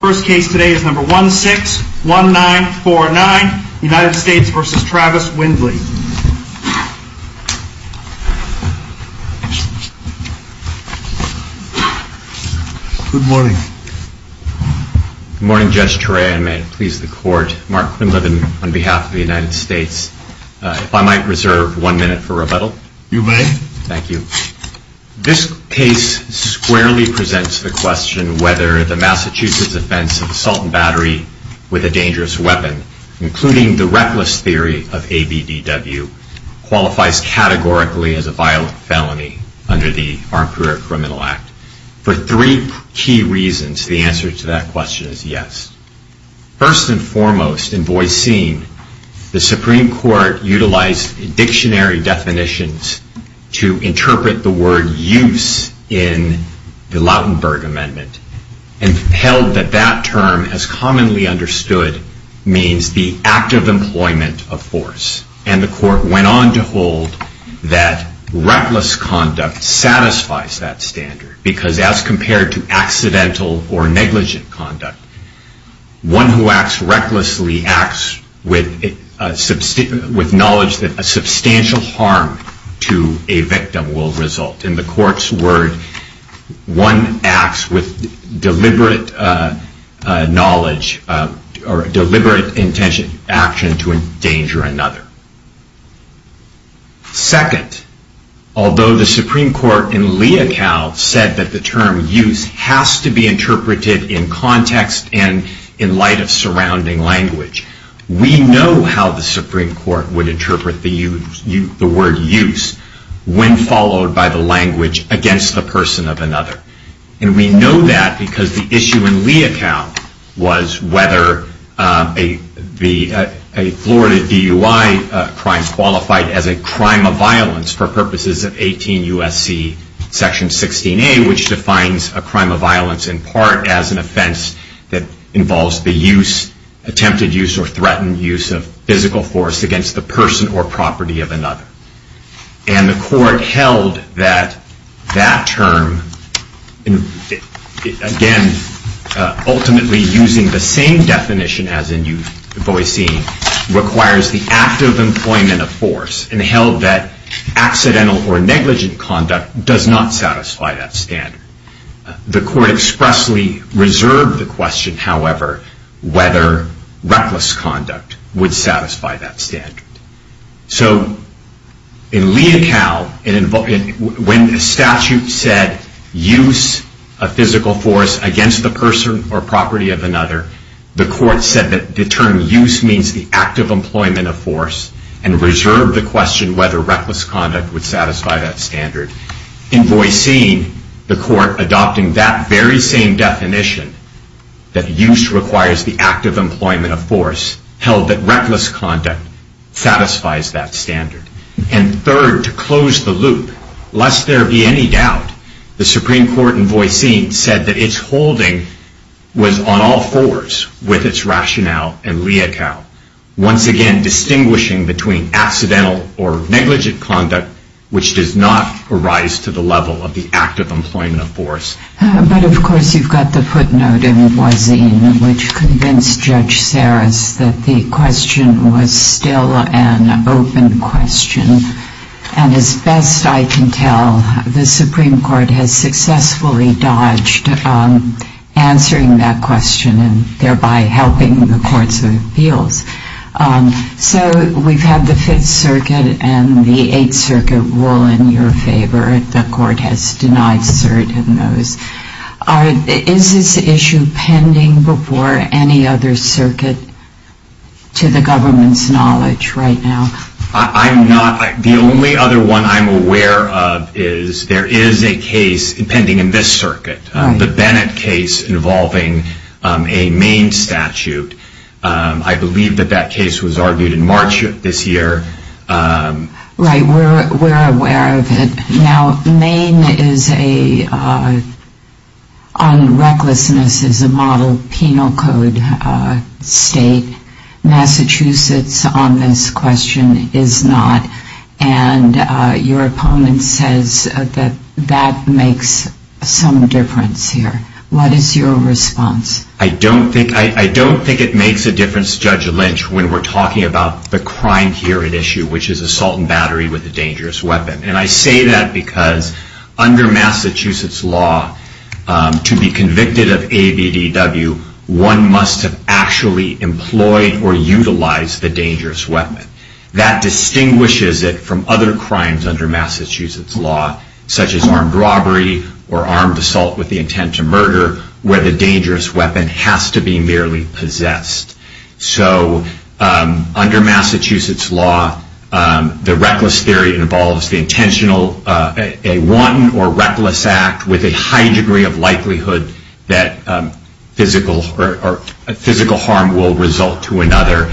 First case today is number 161949 United States v. Travis Windley. Good morning. Good morning Judge Turei, and may it please the court. Mark Quinlivan on behalf of the United States. If I might reserve one minute for rebuttal. You may. Thank you. This case squarely presents the question whether the Massachusetts offense of assault and battery with a dangerous weapon, including the reckless theory of ABDW, qualifies categorically as a violent felony under the Armed Career Criminal Act. For three key reasons, the answer to that question is yes. First and foremost, in Boiseen, the Supreme Court utilized dictionary definitions to interpret the word use in the Lautenberg Amendment and held that that term as commonly understood means the act of employment of force. And the court went on to hold that reckless conduct satisfies that standard, because as compared to accidental or negligent conduct, one who acts recklessly acts with knowledge that a substantial harm to a victim will result. In the court's word, one acts with deliberate knowledge or deliberate intention to endanger another. Second, although the Supreme Court in Leocal said that the term use has to be interpreted in context and in light of surrounding language, we know how the Supreme Court would interpret the word use when followed by the language against the person of another. And we know that because the issue in Leocal was whether a Florida DUI crime qualified as a crime of violence for purposes of 18 U.S.C. section 16A, which defines a crime of violence in part as an offense that involves the use, attempted use, or threatened use of physical force against the person or property of another. And the court held that that term, again, ultimately using the same definition as in U.V.C., requires the act of employment of force and held that accidental or negligent conduct does not satisfy that standard. The court expressly reserved the question, however, whether reckless conduct would satisfy that standard. So in Leocal, when the statute said use of physical force against the person or property of another, the court said that the term use means the act of employment of force and reserved the question whether reckless conduct would satisfy that standard. In Voisin, the court adopting that very same definition, that use requires the act of employment of force, held that reckless conduct satisfies that standard. And third, to close the loop, lest there be any doubt, the Supreme Court in Voisin said that its holding was on all fours with its rationale in Leocal, once again distinguishing between accidental or negligent conduct, which does not arise to the level of the act of employment of force. But, of course, you've got the footnote in Voisin, which convinced Judge Sarris that the question was still an open question. And as best I can tell, the Supreme Court has successfully dodged answering that question and thereby helping the courts of appeals. So we've had the Fifth Circuit and the Eighth Circuit rule in your favor. The court has denied certain of those. Is this issue pending before any other circuit to the government's knowledge right now? I'm not. The only other one I'm aware of is there is a case pending in this circuit, the Bennett case involving a Maine statute. I believe that that case was argued in March of this year. Right, we're aware of it. Now, Maine is a, on recklessness, is a model penal code state. Massachusetts on this question is not. And your opponent says that that makes some difference here. What is your response? I don't think it makes a difference, Judge Lynch, when we're talking about the crime here at issue, which is assault and battery with a dangerous weapon. And I say that because under Massachusetts law, to be convicted of ABDW, one must have actually employed or utilized the dangerous weapon. That distinguishes it from other crimes under Massachusetts law, such as armed robbery or armed assault with the intent to murder, where the dangerous weapon has to be merely possessed. So under Massachusetts law, the reckless theory involves the intentional, a wanton or reckless act with a high degree of likelihood that physical harm will result to another.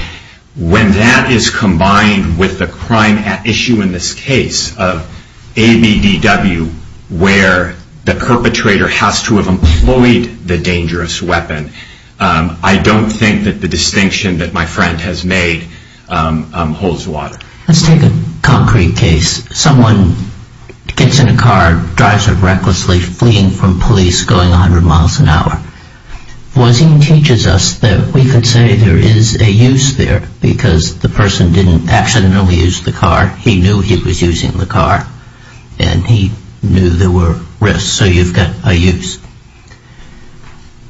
When that is combined with the crime at issue in this case of ABDW, where the perpetrator has to have employed the dangerous weapon, I don't think that the distinction that my friend has made holds water. Let's take a concrete case. Someone gets in a car, drives it recklessly, fleeing from police, going 100 miles an hour. Voisin teaches us that we could say there is a use there, because the person didn't accidentally use the car. He knew he was using the car, and he knew there were risks. So you've got a use.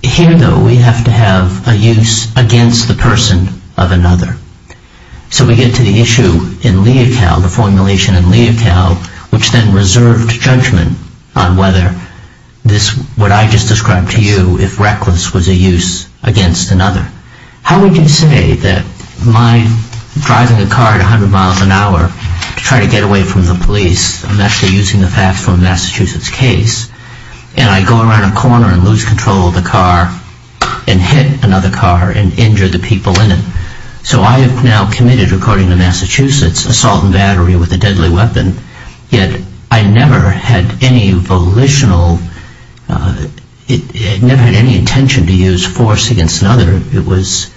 Here, though, we have to have a use against the person of another. So we get to the issue in Leocal, the formulation in Leocal, which then reserved judgment on whether this, what I just described to you, if reckless was a use against another. How would you say that my driving a car at 100 miles an hour to try to get away from the police, I'm actually using the facts from Massachusetts case, and I go around a corner and lose control of the car and hit another car and injure the people in it? So I have now committed, according to Massachusetts, assault and battery with a deadly weapon, yet I never had any volitional, never had any intention to use force against another. It was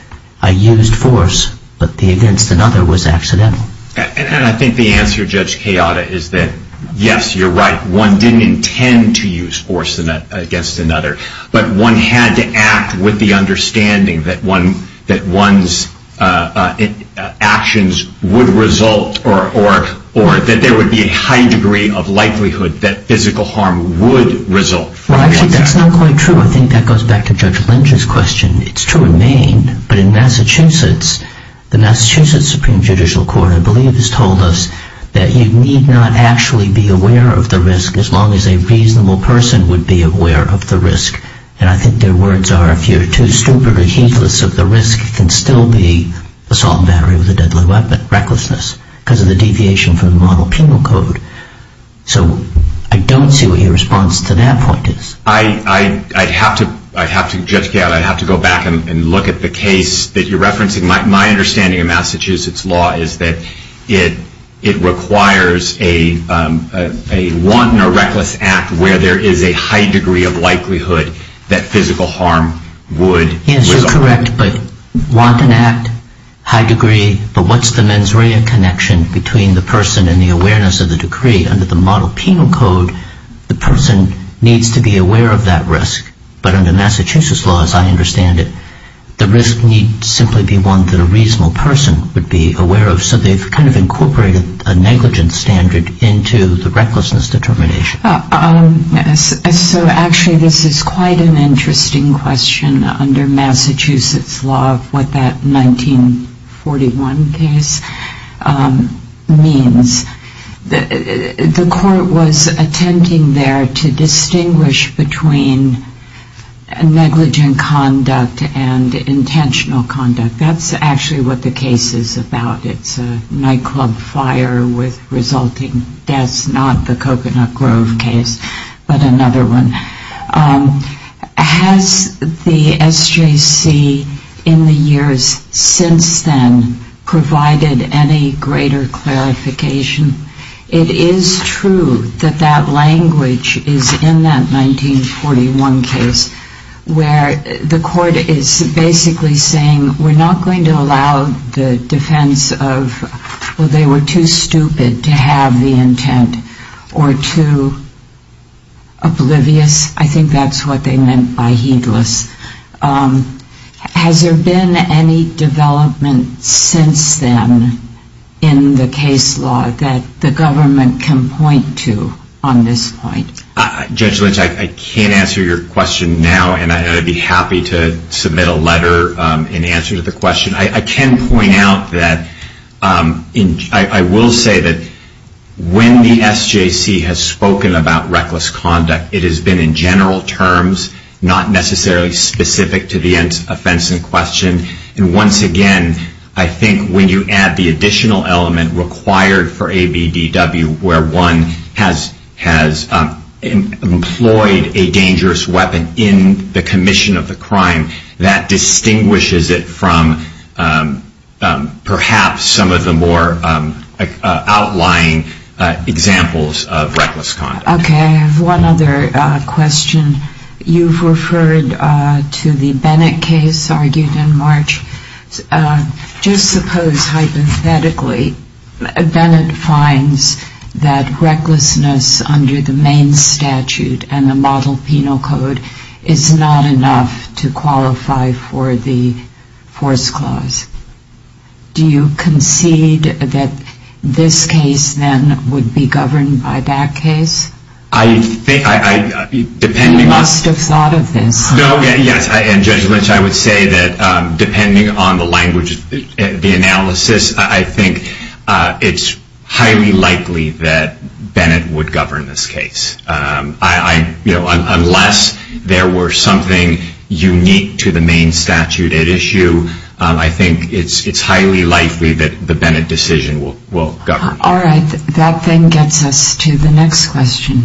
a used force, but the against another was accidental. And I think the answer, Judge Keada, is that yes, you're right. One didn't intend to use force against another, but one had to act with the understanding that one's actions would result, or that there would be a high degree of likelihood that physical harm would result. Well, actually, that's not quite true. I think that goes back to Judge Lynch's question. It's true in Maine, but in Massachusetts, the Massachusetts Supreme Judicial Court, I believe, has told us that you need not actually be aware of the risk as long as a reasonable person would be aware of the risk. And I think their words are, if you're too stupid or heedless of the risk, it can still be assault and battery with a deadly weapon, recklessness, because of the deviation from the model penal code. So I don't see what your response to that point is. I'd have to, Judge Keada, I'd have to go back and look at the case that you're referencing. My understanding of Massachusetts law is that it requires a wanton or reckless act where there is a high degree of likelihood that physical harm would result. Yes, you're correct. But wanton act, high degree, but what's the mens rea connection between the person and the awareness of the decree? Under the model penal code, the person needs to be aware of that risk. But under Massachusetts law, as I understand it, the risk needs to simply be one that a reasonable person would be aware of. So they've kind of incorporated a negligence standard into the recklessness determination. So actually, this is quite an interesting question under Massachusetts law, what that 1941 case means. The court was attempting there to distinguish between negligent conduct and intentional conduct. That's actually what the case is about. It's a nightclub fire with resulting deaths, not the Coconut Grove case, but another one. Has the SJC in the years since then provided any greater clarification? It is true that that language is in that 1941 case where the court is basically saying we're not going to allow the defense of, well, they were too stupid to have the intent or too oblivious. I think that's what they meant by heedless. Has there been any development since then in the case law that the government can point to on this point? Judge Lynch, I can't answer your question now, and I'd be happy to submit a letter in answer to the question. I can point out that I will say that when the SJC has spoken about reckless conduct, it has been in general terms, not necessarily specifically to the offense in question, and once again, I think when you add the additional element required for ABDW where one has employed a dangerous weapon in the commission of the crime, that distinguishes it from perhaps some of the more outlying examples of reckless conduct. Okay, I have one other question. You've referred to the Bennett case argued in March. Just suppose hypothetically Bennett finds that recklessness under the Maine statute and the model penal code is not enough to qualify for the force clause. Do you concede that this case then would be governed by that case? You must have thought of this. Yes, and Judge Lynch, I would say that depending on the language, the analysis, I think it's highly likely that Bennett would govern this case. Unless there were something unique to the Maine statute at issue, I think it's highly likely that the Bennett decision will govern. All right, that then gets us to the next question.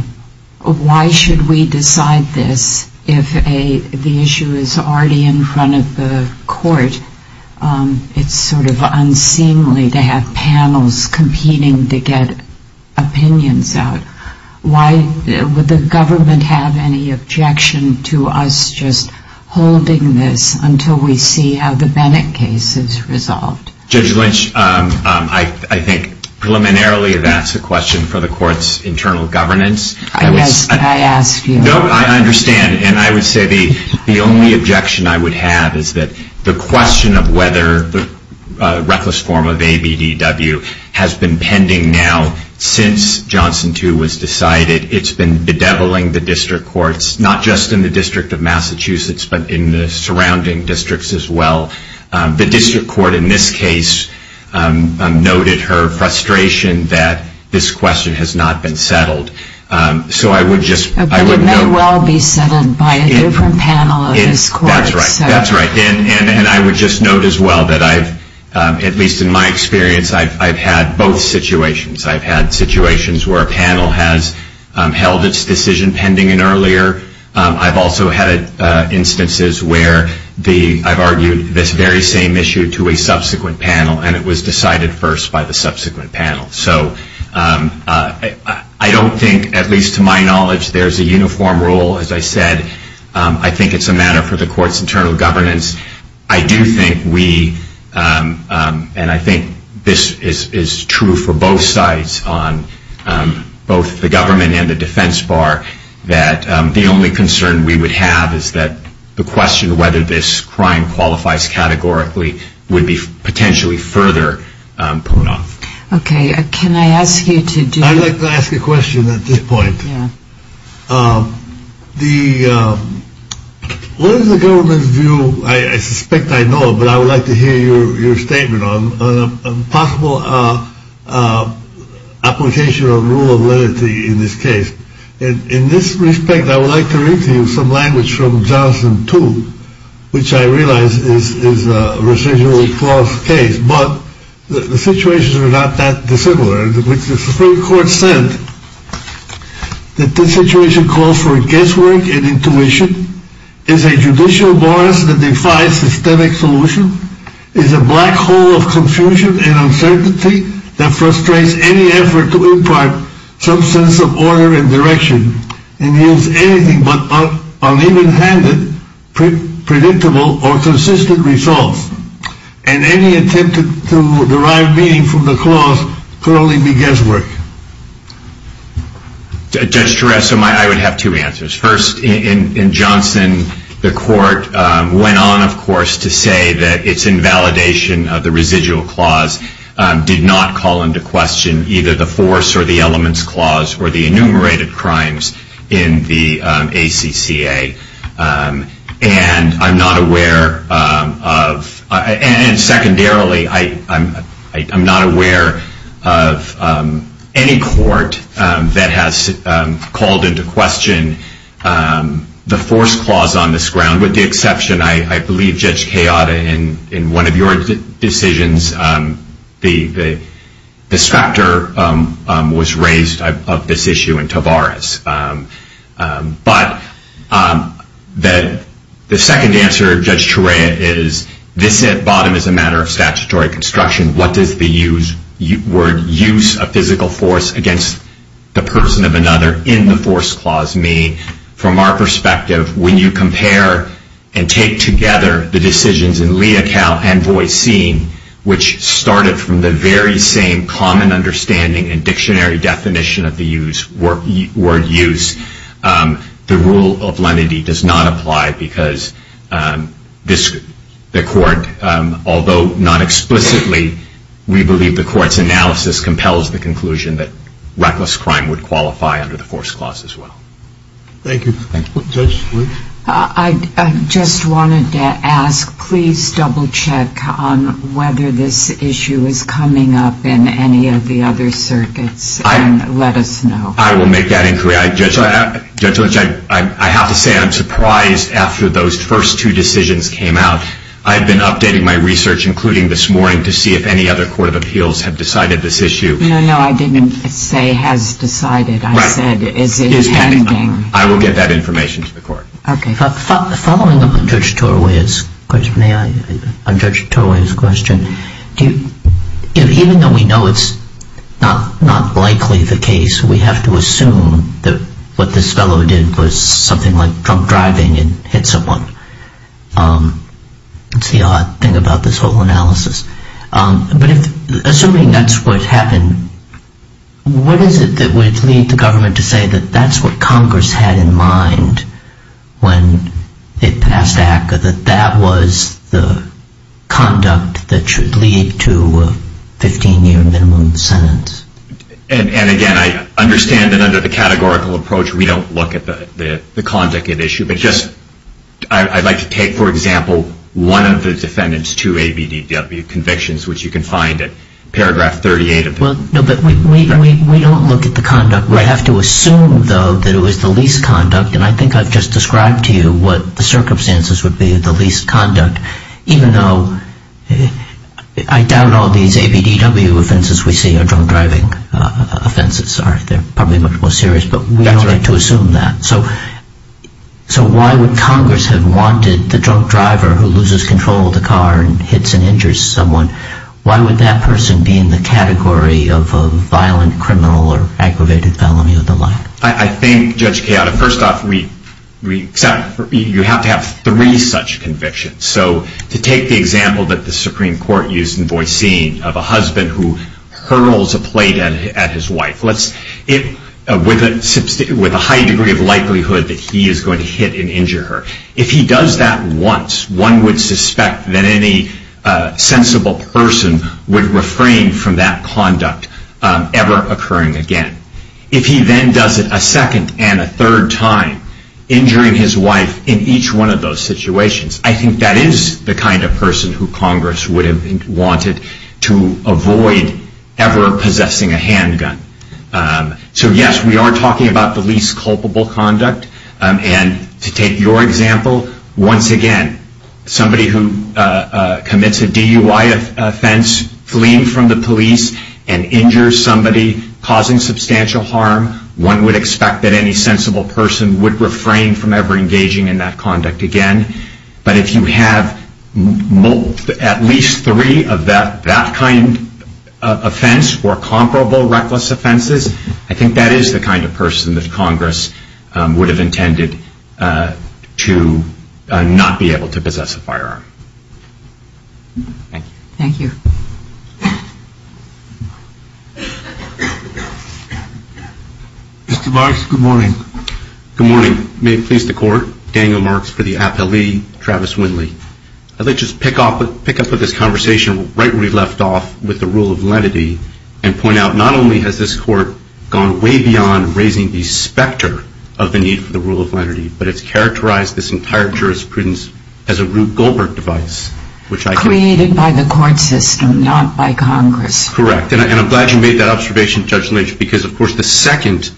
Why should we decide this if the issue is already in front of the court? It's sort of unseemly to have panels competing to get opinions out. Why would the government have any objection to us just holding this until we see how the Bennett case is resolved? Judge Lynch, I think preliminarily that's a question for the court's internal governance. I ask you. No, I understand, and I would say the only objection I would have is that the question of whether the reckless form of ABDW has been pending now since Johnson 2 was decided, it's been bedeviling the district courts, not just in the District of Massachusetts, but in the surrounding districts as well. The district court in this case noted her frustration that this question has not been settled. But it may well be settled by a different panel in this court. That's right, and I would just note as well that, at least in my experience, I've had both situations. I've had situations where a panel has held its decision pending an earlier. I've also had instances where I've argued this very same issue to a subsequent panel, and it was decided first by the subsequent panel. So I don't think, at least to my knowledge, there's a uniform rule. As I said, I think it's a matter for the court's internal governance. I do think we, and I think this is true for both sides on both the government and the defense bar, that the only concern we would have is that the question of whether this crime qualifies categorically would be potentially further put off. OK, can I ask you to do that? I'd like to ask a question at this point. The what is the government's view? I suspect I know, but I would like to hear your statement on a possible application of rule of lenity in this case. And in this respect, I would like to read to you some language from Johnson, too, which I realize is a residual false case. But the situations are not that dissimilar. The Supreme Court said that this situation calls for a guesswork and intuition is a judicial bias that defies systemic solution is a black hole of confusion and uncertainty that frustrates any effort to impart some sense of order and direction. And is anything but uneven handed, predictable or consistent results. And any attempt to derive meaning from the clause could only be guesswork. Judge Tureso, I would have two answers. First, in Johnson, the court went on, of course, to say that its invalidation of the residual clause did not call into question either the force or the elements clause or the enumerated crimes in the ACCA. And I'm not aware of, and secondarily, I'm not aware of any court that has called into question the force clause on this ground. With the exception, I believe Judge Chioda, in one of your decisions, the distractor was raised of this issue in Tavares. But the second answer, Judge Turea, is this at bottom is a matter of statutory construction. What does the word use of physical force against the person of another in the force clause mean? From our perspective, when you compare and take together the decisions in Leocal and Voicene, which started from the very same common understanding and dictionary definition of the word use, the rule of lenity does not apply because the court, although not explicitly, we believe the court's analysis compels the conclusion that reckless crime would qualify under the force clause as well. Thank you. Judge Leach? I just wanted to ask, please double check on whether this issue is coming up in any of the other circuits and let us know. I will make that inquiry. Judge Leach, I have to say I'm surprised after those first two decisions came out. I've been updating my research, including this morning, to see if any other court of appeals have decided this issue. No, no, I didn't say has decided. I said is it pending. I will get that information to the court. Okay. Following up on Judge Turea's question, may I? On Judge Turea's question, even though we know it's not likely the case, we have to assume that what this fellow did was something like drunk driving and hit someone. It's the odd thing about this whole analysis. But assuming that's what happened, what is it that would lead the government to say that that's what Congress had in mind when it passed ACCA, that that was the conduct that should lead to a 15-year minimum sentence? And, again, I understand that under the categorical approach we don't look at the conduct at issue, but just I'd like to take, for example, one of the defendant's two ABDW convictions, which you can find at paragraph 38. No, but we don't look at the conduct. We have to assume, though, that it was the least conduct, and I think I've just described to you what the circumstances would be of the least conduct, even though I doubt all these ABDW offenses we see are drunk driving offenses. They're probably much more serious, but we don't have to assume that. So why would Congress have wanted the drunk driver who loses control of the car and hits and injures someone, why would that person be in the category of a violent criminal or aggravated felony or the like? I think, Judge Chiara, first off, you have to have three such convictions. So to take the example that the Supreme Court used in Boissin of a husband who hurls a plate at his wife with a high degree of likelihood that he is going to hit and injure her, if he does that once, one would suspect that any sensible person would refrain from that conduct ever occurring again. If he then does it a second and a third time, injuring his wife in each one of those situations, I think that is the kind of person who Congress would have wanted to avoid ever possessing a handgun. So, yes, we are talking about the least culpable conduct. And to take your example, once again, somebody who commits a DUI offense, fleeing from the police and injures somebody causing substantial harm, one would expect that any sensible person would refrain from ever engaging in that conduct again. But if you have at least three of that kind of offense or comparable reckless offenses, I think that is the kind of person that Congress would have intended to not be able to possess a firearm. Thank you. Thank you. Mr. Marks, good morning. Good morning. May it please the Court, Daniel Marks for the appellee, Travis Winley. I would like to just pick up on this conversation right where we left off with the rule of lenity and point out not only has this Court gone way beyond raising the specter of the need for the rule of lenity, but it's characterized this entire jurisprudence as a Rube Goldberg device, which I think Created by the court system, not by Congress. Correct. And I'm glad you made that observation, Judge Lynch, because, of course, the second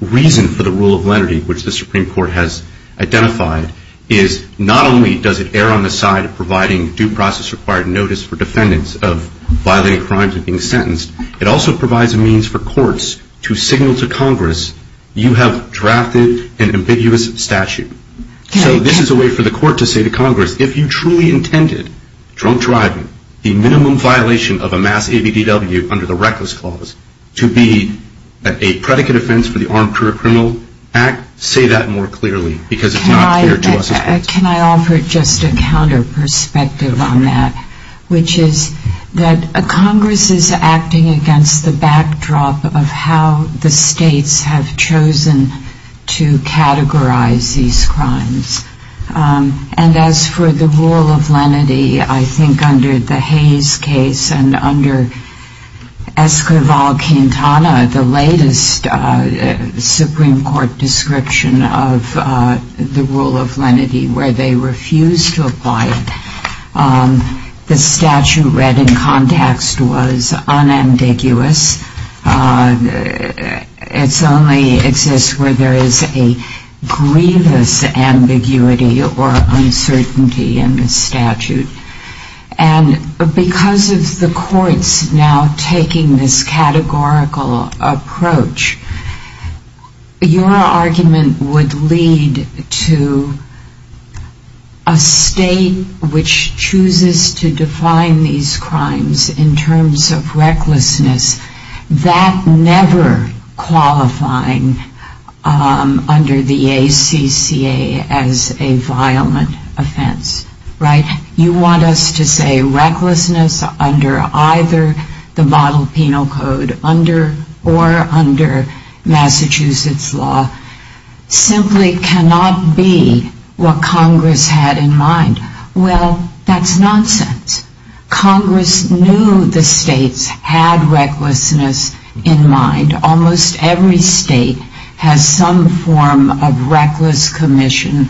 reason for the rule of lenity, which the Supreme Court has identified, is not only does it err on the side of providing due process required notice for defendants of violating crimes and being sentenced, it also provides a means for courts to signal to Congress, you have drafted an ambiguous statute. So this is a way for the court to say to Congress, if you truly intended drunk driving, the minimum violation of a mass ABDW under the Reckless Clause, to be a predicate offense for the Armed Career Criminal Act, say that more clearly, because it's not fair to us. Can I offer just a counter perspective on that, which is that Congress is acting against the backdrop of how the states have chosen to categorize these crimes. And as for the rule of lenity, I think under the Hayes case and under Esquivel-Quintana, the latest Supreme Court description of the rule of lenity where they refused to apply it, the statute read in context was unambiguous. It only exists where there is a grievous ambiguity or uncertainty in the statute. And because of the courts now taking this categorical approach, your argument would lead to a state which chooses to define these crimes in terms of recklessness, that never qualifying under the ACCA as a violent offense, right? You want us to say recklessness under either the model penal code or under Massachusetts law simply cannot be what Congress had in mind. Well, that's nonsense. Congress knew the states had recklessness in mind. Almost every state has some form of reckless commission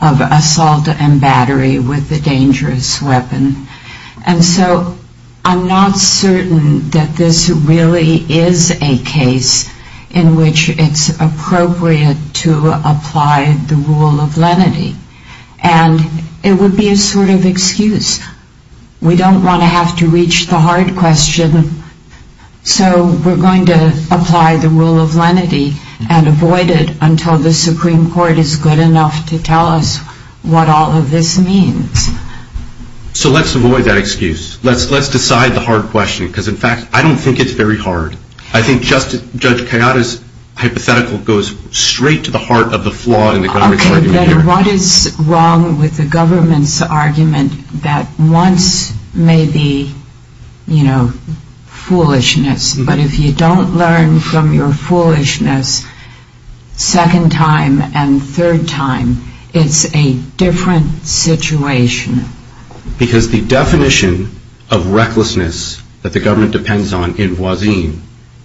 of assault and battery with a dangerous weapon. And so I'm not certain that this really is a case in which it's appropriate to apply the rule of lenity. And it would be a sort of excuse. We don't want to have to reach the hard question. So we're going to apply the rule of lenity and avoid it until the Supreme Court is good enough to tell us what all of this means. So let's avoid that excuse. Let's decide the hard question because, in fact, I don't think it's very hard. I think Judge Kayada's hypothetical goes straight to the heart of the flaw in the government's argument here. That once may be, you know, foolishness. But if you don't learn from your foolishness second time and third time, it's a different situation. Because the definition of recklessness that the government depends on in Voisin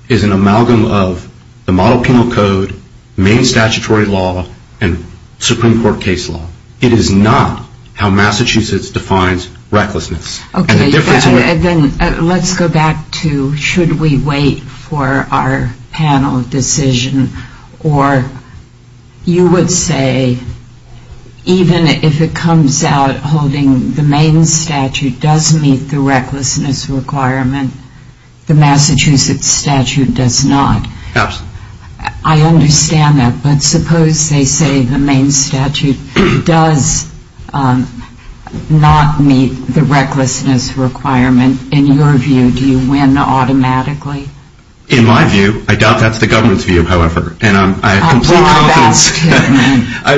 is an amalgam of the model penal code, main statutory law, and Supreme Court case law. It is not how Massachusetts defines recklessness. Okay. Then let's go back to should we wait for our panel decision. Or you would say even if it comes out holding the main statute does meet the recklessness requirement, the Massachusetts statute does not. Absolutely. I understand that. But suppose they say the main statute does not meet the recklessness requirement. In your view, do you win automatically? In my view, I doubt that's the government's view, however. And I have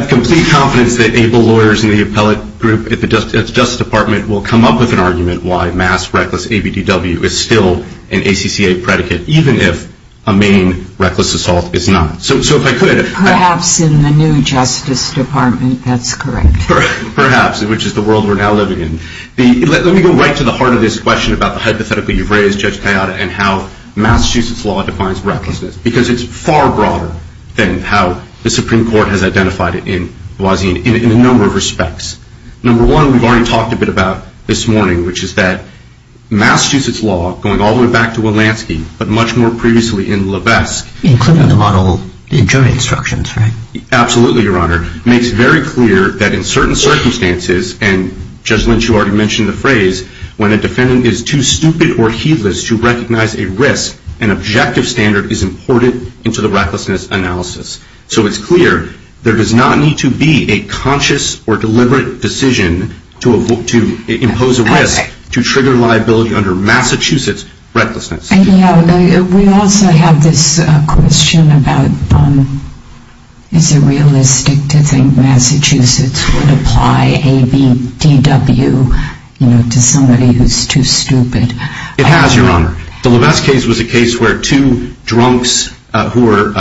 complete confidence that able lawyers in the appellate group at the Justice Department will come up with an argument why mass reckless ABDW is still an ACCA predicate, even if a main reckless assault is not. So if I could. Perhaps in the new Justice Department, that's correct. Perhaps, which is the world we're now living in. Let me go right to the heart of this question about the hypothetical you've raised, Judge Kayada, and how Massachusetts law defines recklessness. Because it's far broader than how the Supreme Court has identified it in Voisin in a number of respects. Number one, we've already talked a bit about this morning, which is that Massachusetts law, going all the way back to Wilansky, but much more previously in Levesque. Including the model, the jury instructions, right? Absolutely, Your Honor. It makes very clear that in certain circumstances, and Judge Lynch, you already mentioned the phrase, when a defendant is too stupid or heedless to recognize a risk, an objective standard is imported into the recklessness analysis. So it's clear there does not need to be a conscious or deliberate decision to impose a risk to trigger liability under Massachusetts recklessness. We also have this question about is it realistic to think Massachusetts would apply ABDW to somebody who's too stupid? It has, Your Honor. The Levesque case was a case where two drunks who were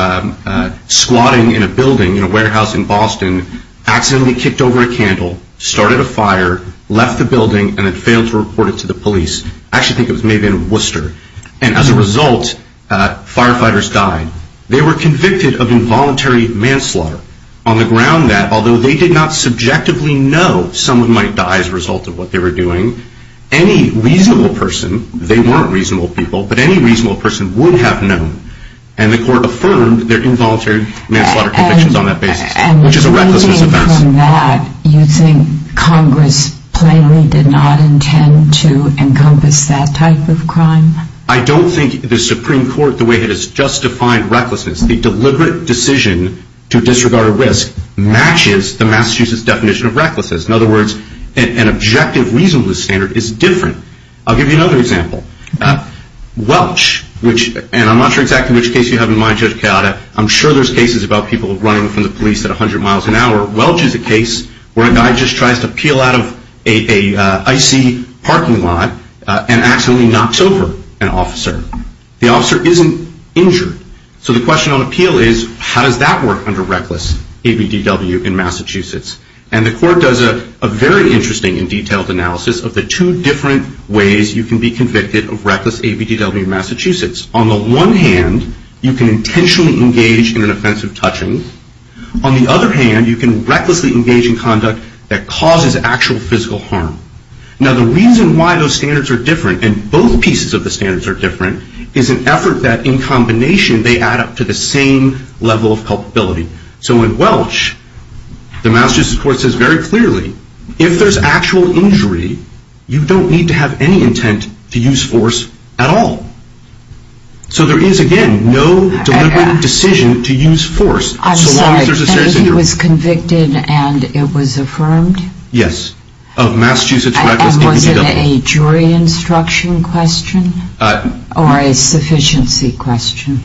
squatting in a building, in a warehouse in Boston, accidentally kicked over a candle, started a fire, left the building, and then failed to report it to the police. I actually think it was maybe in Worcester. And as a result, firefighters died. They were convicted of involuntary manslaughter on the ground that, although they did not subjectively know someone might die as a result of what they were doing, any reasonable person, they weren't reasonable people, but any reasonable person would have known, and the court affirmed their involuntary manslaughter convictions on that basis, which is a recklessness offense. And reading from that, you think Congress plainly did not intend to encompass that type of crime? I don't think the Supreme Court, the way it is, just defined recklessness. The deliberate decision to disregard a risk matches the Massachusetts definition of recklessness. In other words, an objective reasonableness standard is different. I'll give you another example. Welch, and I'm not sure exactly which case you have in mind, Judge Chiara, I'm sure there's cases about people running from the police at 100 miles an hour. Welch is a case where a guy just tries to peel out of an icy parking lot and accidentally knocks over an officer. The officer isn't injured. So the question on appeal is, how does that work under reckless ABDW in Massachusetts? And the court does a very interesting and detailed analysis of the two different ways you can be convicted of reckless ABDW in Massachusetts. On the one hand, you can intentionally engage in an offensive touching. On the other hand, you can recklessly engage in conduct that causes actual physical harm. Now, the reason why those standards are different, and both pieces of the standards are different, is an effort that in combination they add up to the same level of culpability. So in Welch, the Massachusetts court says very clearly, if there's actual injury, you don't need to have any intent to use force at all. So there is, again, no deliberate decision to use force so long as there's a serious injury. I'm sorry, and he was convicted and it was affirmed? Yes, of Massachusetts reckless ABDW. And was it a jury instruction question? Or a sufficiency question?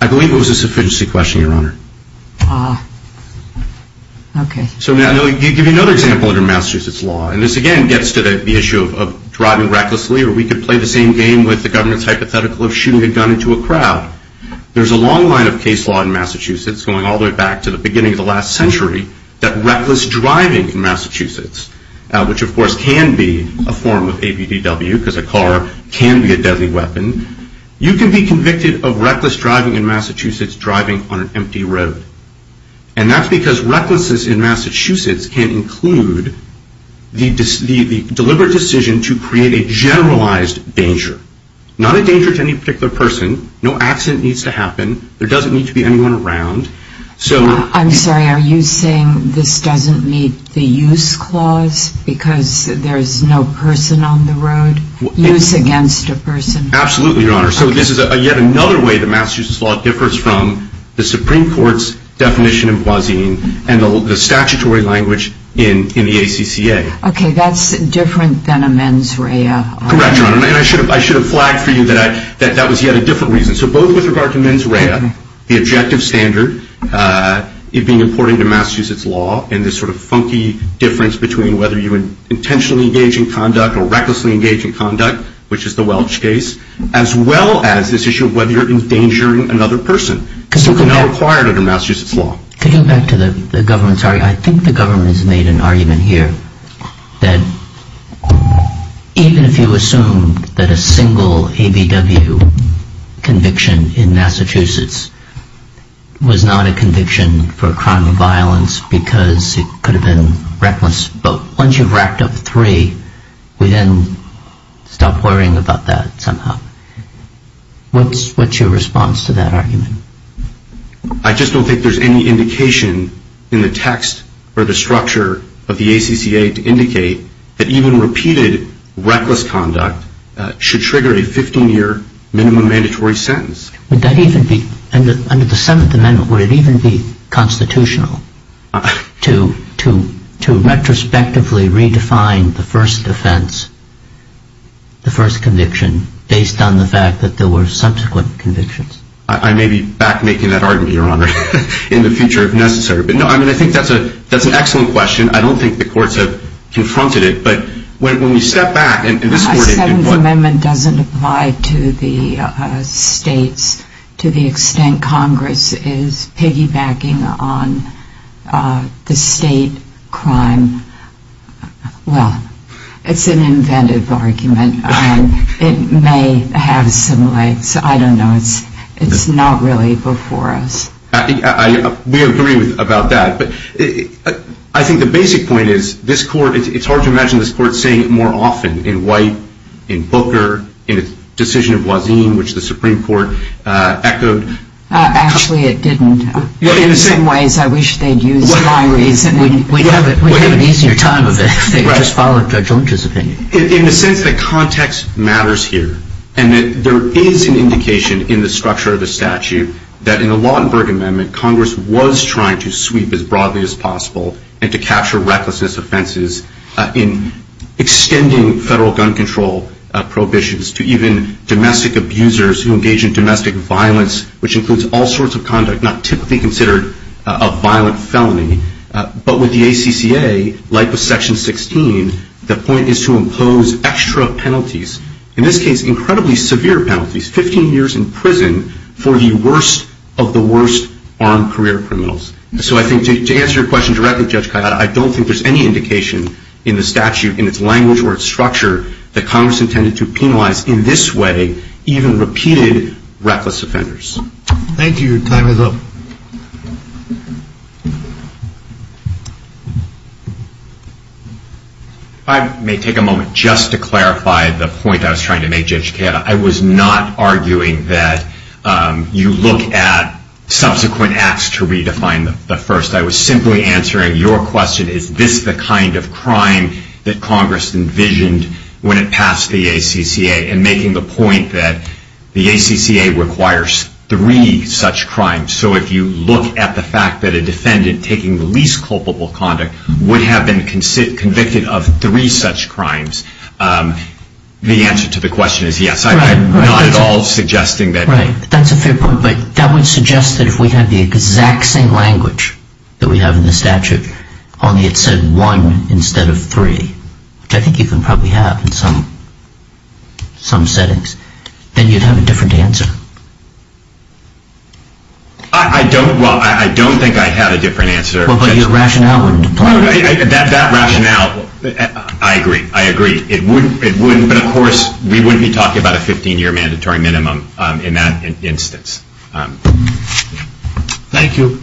I believe it was a sufficiency question, Your Honor. Ah. Okay. So now I'm going to give you another example under Massachusetts law. And this, again, gets to the issue of driving recklessly, or we could play the same game with the government's hypothetical of shooting a gun into a crowd. There's a long line of case law in Massachusetts going all the way back to the beginning of the last century that reckless driving in Massachusetts, which of course can be a form of ABDW because a car can be a deadly weapon, you can be convicted of reckless driving in Massachusetts driving on an empty road. And that's because recklessness in Massachusetts can include the deliberate decision to create a generalized danger. Not a danger to any particular person. No accident needs to happen. There doesn't need to be anyone around. I'm sorry, are you saying this doesn't meet the use clause because there's no person on the road? Use against a person. Absolutely, Your Honor. So this is yet another way that Massachusetts law differs from the Supreme Court's definition in Boisean and the statutory language in the ACCA. Okay, that's different than a mens rea. Correct, Your Honor. And I should have flagged for you that that was yet a different reason. So both with regard to mens rea, the objective standard, it being important to Massachusetts law, and this sort of funky difference between whether you intentionally engage in conduct or recklessly engage in conduct, which is the Welch case, as well as this issue of whether you're endangering another person. So it's not required under Massachusetts law. Could you go back to the government's argument? I think the government has made an argument here that even if you assume that a single ABDW conviction in Massachusetts was not a conviction for a crime of violence because it could have been reckless, but once you've racked up three, we then stop worrying about that somehow. What's your response to that argument? I just don't think there's any indication in the text or the structure of the ACCA to indicate that even repeated reckless conduct should trigger a 15-year minimum mandatory sentence. Under the Seventh Amendment, would it even be constitutional to retrospectively redefine the first offense, the first conviction, based on the fact that there were subsequent convictions? I may be back making that argument, Your Honor, in the future if necessary. But, no, I mean, I think that's an excellent question. I don't think the courts have confronted it. But when you step back, and this court did. The Seventh Amendment doesn't apply to the states to the extent Congress is piggybacking on the state crime. Well, it's an inventive argument. It may have some lengths. I don't know. It's not really before us. We agree about that. But I think the basic point is this court, it's hard to imagine this court saying it more often in White, in Booker, in the decision of Wazin, which the Supreme Court echoed. Actually, it didn't. In some ways, I wish they'd used my reasoning. We have an easier time of it if they just followed Judge Lynch's opinion. In the sense that context matters here and that there is an indication in the structure of the statute that in the and to capture recklessness offenses in extending federal gun control prohibitions to even domestic abusers who engage in domestic violence, which includes all sorts of conduct not typically considered a violent felony. But with the ACCA, like with Section 16, the point is to impose extra penalties. In this case, incredibly severe penalties, 15 years in prison for the worst of the worst armed career criminals. So I think to answer your question directly, Judge Kayada, I don't think there's any indication in the statute, in its language or its structure, that Congress intended to penalize in this way even repeated reckless offenders. Thank you. Your time is up. If I may take a moment just to clarify the point I was trying to make, Judge Kayada, I was not arguing that you look at subsequent acts to redefine the first. I was simply answering your question, is this the kind of crime that Congress envisioned when it passed the ACCA? And making the point that the ACCA requires three such crimes. So if you look at the fact that a defendant taking the least culpable conduct would have been convicted of three such crimes, the answer to the question is yes. I'm not at all suggesting that. Right, that's a fair point. But that would suggest that if we had the exact same language that we have in the statute, only it said one instead of three, which I think you can probably have in some settings, then you'd have a different answer. I don't. Well, I don't think I had a different answer. Well, but your rationale would imply that. That rationale, I agree. I agree. But, of course, we wouldn't be talking about a 15-year mandatory minimum in that instance. Thank you.